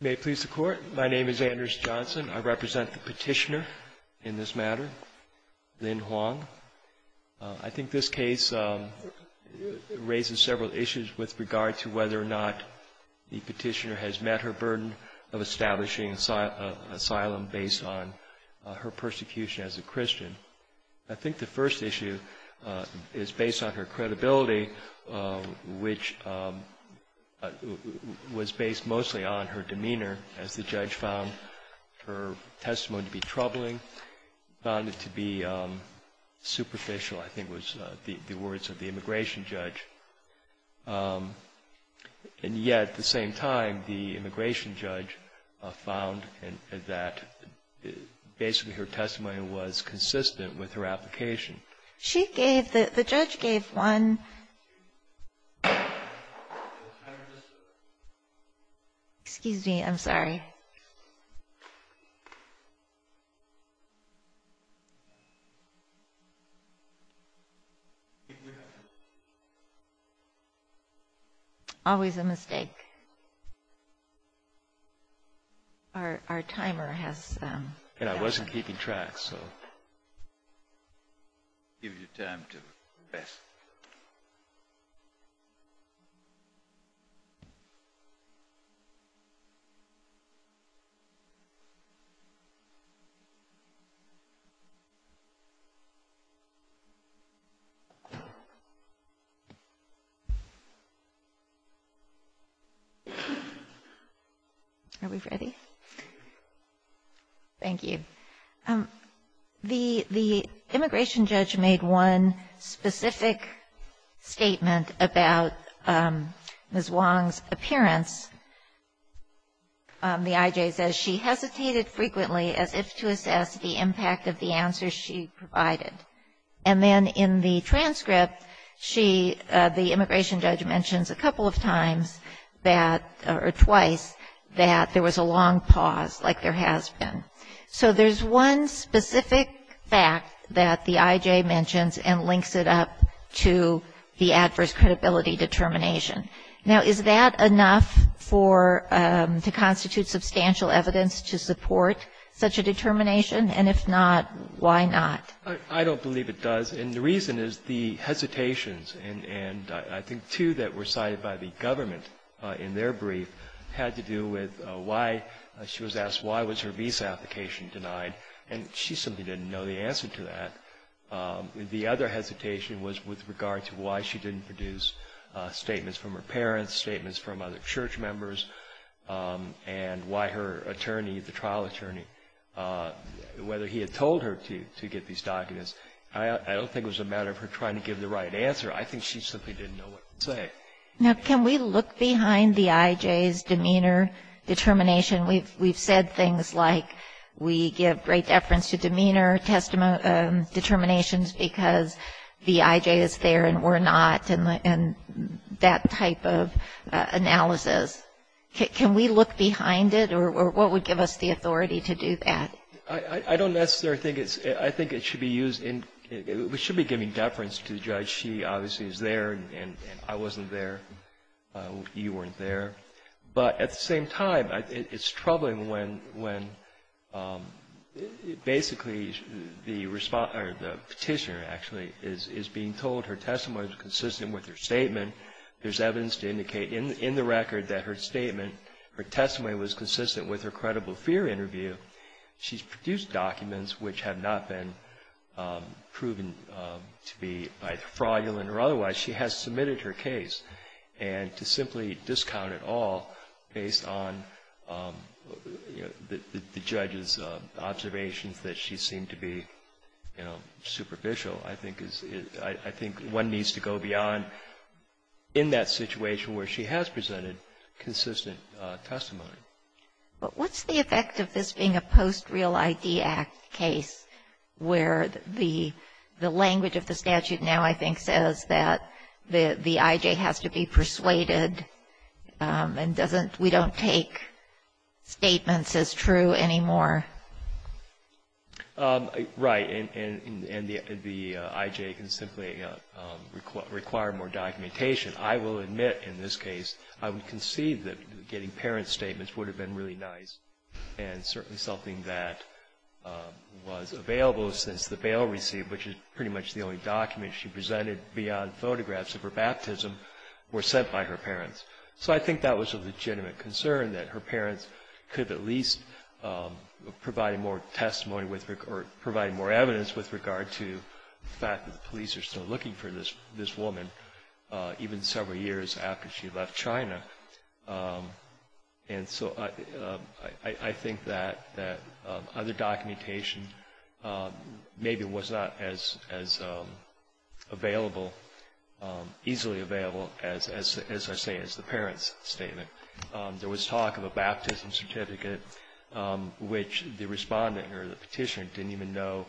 May it please the Court, my name is Anders Johnson. I represent the petitioner in this matter, Lin Huang. I think this case raises several issues with regard to whether or not the petitioner has met her burden of establishing asylum based on her persecution as a Christian. I think the first issue is based on her credibility, which was based mostly on her demeanor. As the judge found her testimony to be troubling, found it to be superficial, I think was the words of the immigration judge. And yet, at the same time, the immigration judge found that basically her testimony was consistent with her application. Excuse me, I'm sorry. Our timer has... I wasn't keeping track, so... Give you time to rest. Are we ready? Thank you. The immigration judge made one specific statement about Ms. Huang's appearance. The I.J. says she hesitated frequently as if to assess the impact of the answers she provided. And then in the transcript, she, the immigration judge, mentions a couple of times that, or twice, that there was a long pause, like there has been. So there's one specific fact that the I.J. mentions and links it up to the adverse credibility determination. Now, is that enough for, to constitute substantial evidence to support such a determination? And if not, why not? I don't believe it does. And the reason is the hesitations, and I think two that were cited by the government in their brief had to do with why, she was asked why was her visa application denied, and she simply didn't know the answer to that. The other hesitation was with regard to why she didn't produce statements from her parents, statements from other church members, and why her attorney, the trial attorney, whether he had told her to get these documents. I don't think it was a matter of her trying to give the right answer. I think she simply didn't know what to say. Now, can we look behind the I.J.'s demeanor determination? We've said things like we give great deference to demeanor determinations because the I.J. is there and we're not, and that type of analysis. Can we look behind it, or what would give us the authority to do that? I don't necessarily think it's, I think it should be used, we should be giving deference to the judge. She obviously is there, and I wasn't there, you weren't there. But at the same time, it's troubling when basically the petitioner actually is being told her testimony was consistent with her statement, there's evidence to indicate in the record that her statement, her testimony was consistent with her credible fear interview. She's produced documents which have not been proven to be fraudulent or otherwise. She has submitted her case, and to simply discount it all based on, you know, the judge's observations that she seemed to be, you know, superficial, I think is, I think one needs to go beyond in that situation where she has presented consistent testimony. But what's the effect of this being a post-Real ID Act case where the language of the statute now I think says that the I.J. has to be persuaded and doesn't we don't take statements as true anymore? Right. And the I.J. can simply require more documentation. I will admit in this case, I would concede that getting parents' statements would have been really nice, and certainly something that was available since the bail received, which is pretty much the only document she presented beyond photographs of her baptism, were sent by her parents. So I think that was a legitimate concern that her parents could at least provide more testimony or provide more evidence with regard to the fact that the police are still looking for this woman, even several years after she left China. And so I think that other documentation maybe was not as available, easily available, as I say, as the parents' statement. There was talk of a baptism certificate which the Respondent or the Petitioner didn't even know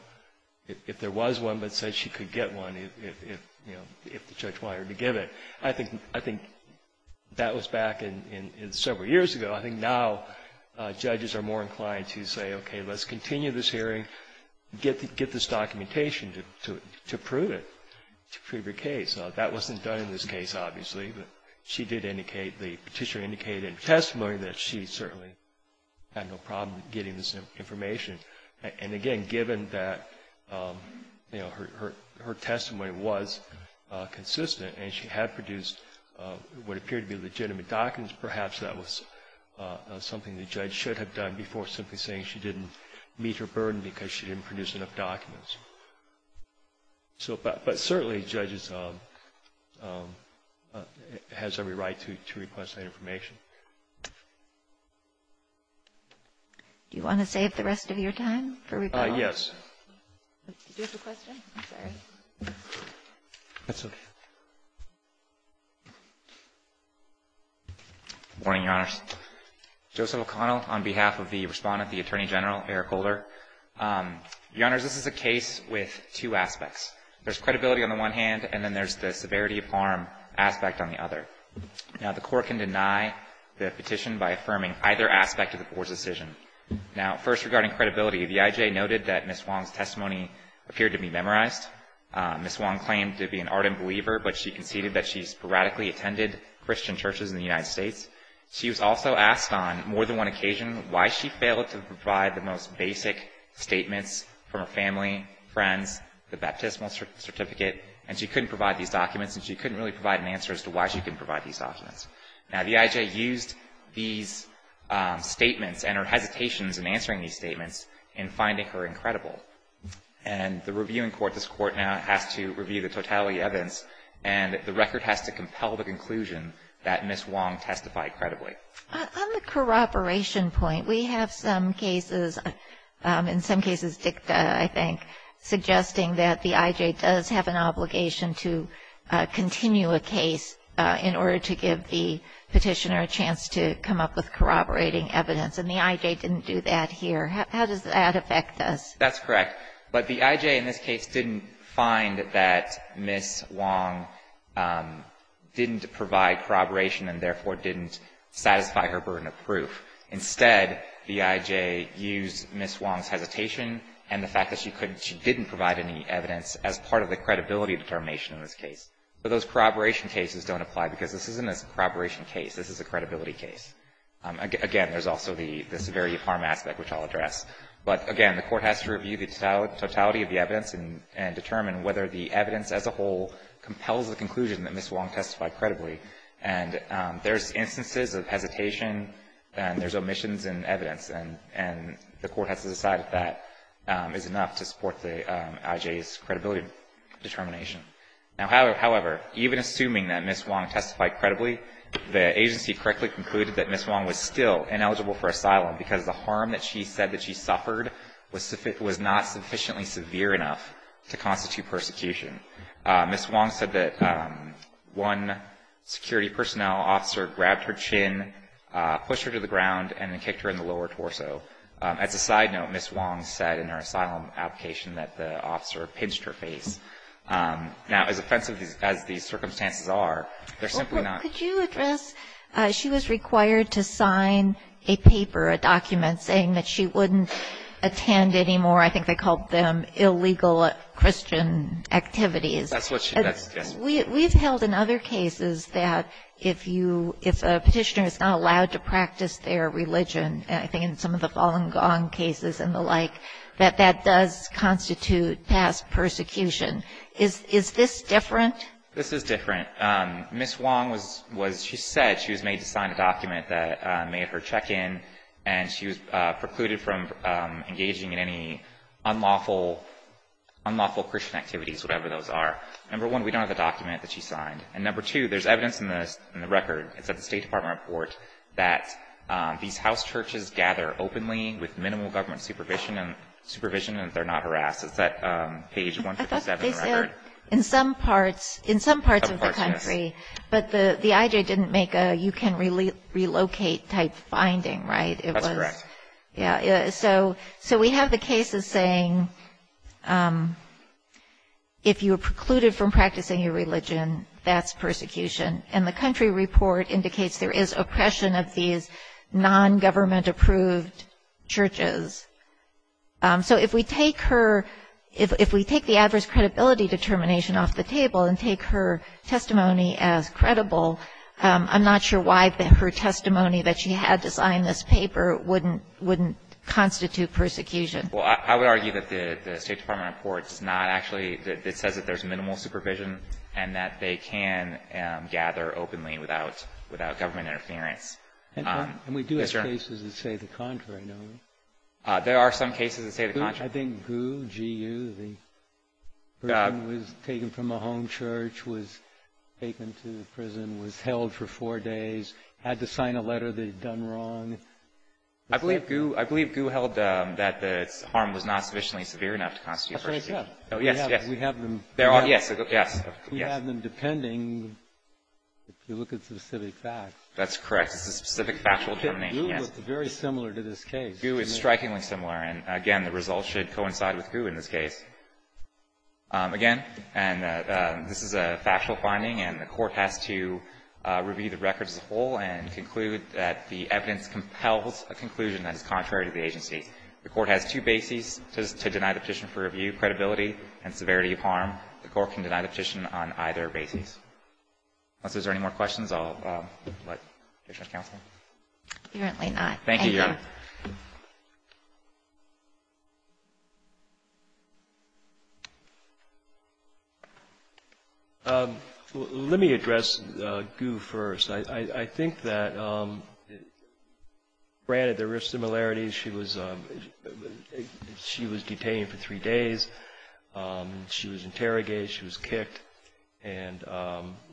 if there was one, but said she could get one if, you know, if the judge wanted her to give it. I think that was back in several years ago. I think now judges are more inclined to say, okay, let's continue this hearing, get this documentation to prove it, to prove your case. That wasn't done in this case, obviously. But she did indicate, the Petitioner indicated in testimony that she certainly had no problem getting this information. And again, given that, you know, her testimony was consistent and she had produced what appeared to be legitimate documents, perhaps that was something the judge should have done before simply saying she didn't meet her burden because she didn't produce enough documents. So, but certainly judges has every right to request that information. Do you want to save the rest of your time for rebuttal? Yes. Do you have a question? I'm sorry. That's okay. Good morning, Your Honors. Joseph O'Connell on behalf of the Respondent, the Attorney General, Eric Holder. Your Honors, this is a case with two aspects. There's credibility on the one hand, and then there's the severity of harm aspect on the other. Now, the Court can deny the petition by affirming either aspect of the poor's decision. Now, first, regarding credibility, the IJ noted that Ms. Wong's testimony appeared to be memorized. Ms. Wong claimed to be an ardent believer, but she conceded that she sporadically attended Christian churches in the United States. She was also asked on more than one occasion why she failed to provide the most basic statements from her family, friends, the baptismal certificate, and she couldn't provide these documents and she couldn't really provide an answer as to why she couldn't provide these documents. Now, the IJ used these statements and her hesitations in answering these statements in finding her incredible. And the reviewing court, this court now has to review the totality of evidence, and the record has to compel the conclusion that Ms. Wong testified credibly. On the corroboration point, we have some cases, in some cases dicta, I think, suggesting that the IJ does have an obligation to continue a case in order to give the petitioner a chance to come up with corroborating evidence, and the IJ didn't do that here. How does that affect us? That's correct. But the IJ in this case didn't find that Ms. Wong didn't provide corroboration and therefore didn't satisfy her burden of proof. Instead, the IJ used Ms. Wong's hesitation and the fact that she couldn't, she didn't provide any evidence as part of the credibility determination in this case. But those corroboration cases don't apply because this isn't a corroboration case. This is a credibility case. Again, there's also the severity of harm aspect, which I'll address. But, again, the court has to review the totality of the evidence and determine whether the evidence as a whole compels the conclusion that Ms. Wong testified credibly. And there's instances of hesitation and there's omissions in evidence, and the court has to decide if that is enough to support the IJ's credibility determination. Now, however, even assuming that Ms. Wong testified credibly, the agency correctly concluded that Ms. Wong was still ineligible for asylum because the harm that she said that she suffered was not sufficiently severe enough to constitute persecution. Ms. Wong said that one security personnel officer grabbed her chin, pushed her to the ground, and then kicked her in the lower torso. As a side note, Ms. Wong said in her asylum application that the officer pinched her face. Now, as offensive as these circumstances are, they're simply not. Could you address, she was required to sign a paper, a document, saying that she wouldn't attend anymore, I think they called them illegal Christian activities. That's what she does, yes. We've held in other cases that if you, if a petitioner is not allowed to practice their religion, I think in some of the Falun Gong cases and the like, that that does constitute past persecution. Is this different? This is different. Ms. Wong was, she said she was made to sign a document that made her check in and she was precluded from engaging in any unlawful Christian activities, whatever those are. Number one, we don't have the document that she signed. And number two, there's evidence in the record, it's at the State Department report, that these house churches gather openly with minimal government supervision and they're not harassed. It's at page 157 of the record. In some parts of the country. But the IJ didn't make a you can relocate type finding, right? That's correct. Yeah, so we have the cases saying if you are precluded from practicing your religion, that's persecution. And the country report indicates there is oppression of these non-government approved churches. So if we take her, if we take the adverse credibility determination off the table and take her testimony as credible, I'm not sure why her testimony that she had to sign this paper wouldn't constitute persecution. Well, I would argue that the State Department report does not actually, it says that there's minimal supervision and that they can gather openly without government interference. And we do have cases that say the contrary, don't we? There are some cases that say the contrary. I think GU, G-U, the person was taken from a home church, was taken to prison, was held for four days, had to sign a letter they'd done wrong. I believe GU held that the harm was not sufficiently severe enough to constitute persecution. That's what I thought. Yes, yes. We have them. Yes, yes. We have them depending, if you look at specific facts. That's correct. It's a specific factual determination, yes. GU was very similar to this case. GU is strikingly similar. And, again, the results should coincide with GU in this case. Again, and this is a factual finding, and the Court has to review the records as a whole and conclude that the evidence compels a conclusion that is contrary to the agency. The Court has two bases to deny the petition for review, credibility and severity of harm. The Court can deny the petition on either basis. Unless there's any more questions, I'll let the judge counsel. Apparently not. Thank you, Your Honor. Let me address GU first. I think that, granted, there are similarities. She was detained for three days. She was interrogated. She was kicked. And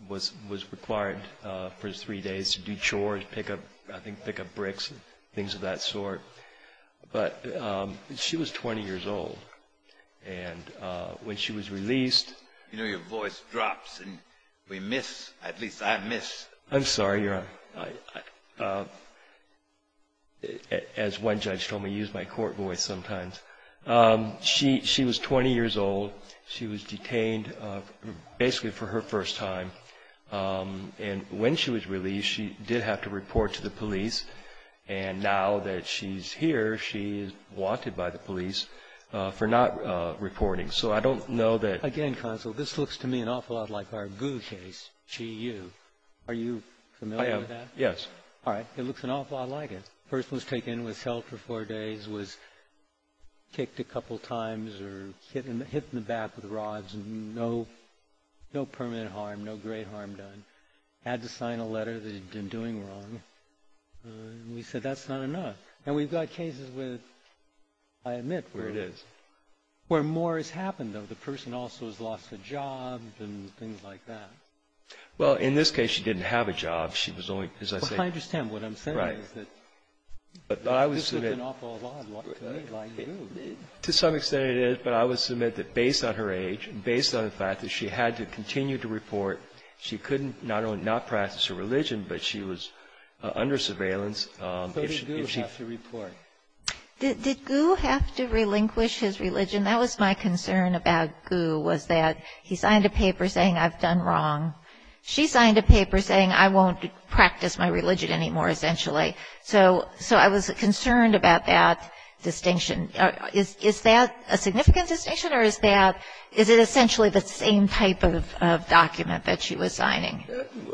was required for three days to do chores, pick up bricks, things of that sort. But she was 20 years old. And when she was released... You know, your voice drops, and we miss. At least I miss. I'm sorry, Your Honor. As one judge told me, I use my court voice sometimes. She was 20 years old. She was detained basically for her first time. And when she was released, she did have to report to the police. And now that she's here, she is wanted by the police for not reporting. So I don't know that... Again, counsel, this looks to me an awful lot like our GU case, G-U. Are you familiar with that? Yes. All right. It looks an awful lot like it. The person was taken and was held for four days, was kicked a couple times, or hit in the back with rods, and no permanent harm, no great harm done. Had to sign a letter that he'd been doing wrong. And we said, that's not enough. And we've got cases with, I admit, where more has happened, though. The person also has lost a job and things like that. Well, in this case, she didn't have a job. She was only, as I say... But I would submit... This looks an awful lot like GU. To some extent it is. But I would submit that based on her age, based on the fact that she had to continue to report, she could not only not practice her religion, but she was under surveillance. So did GU have to report? Did GU have to relinquish his religion? That was my concern about GU, was that he signed a paper saying, I've done wrong. She signed a paper saying, I won't practice my religion anymore, essentially. So I was concerned about that distinction. Is that a significant distinction, or is it essentially the same type of document that she was signing?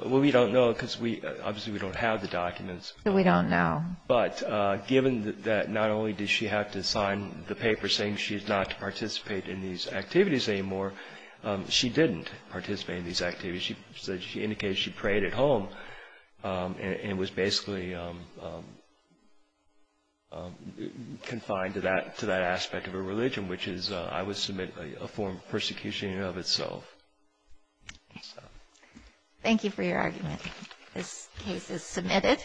Well, we don't know, because obviously we don't have the documents. We don't know. But given that not only did she have to sign the paper saying she's not to participate in these activities anymore, she didn't participate in these activities. She indicated she prayed at home, and was basically confined to that aspect of her religion, which is, I would submit, a form of persecution in and of itself. Thank you for your argument. This case is submitted.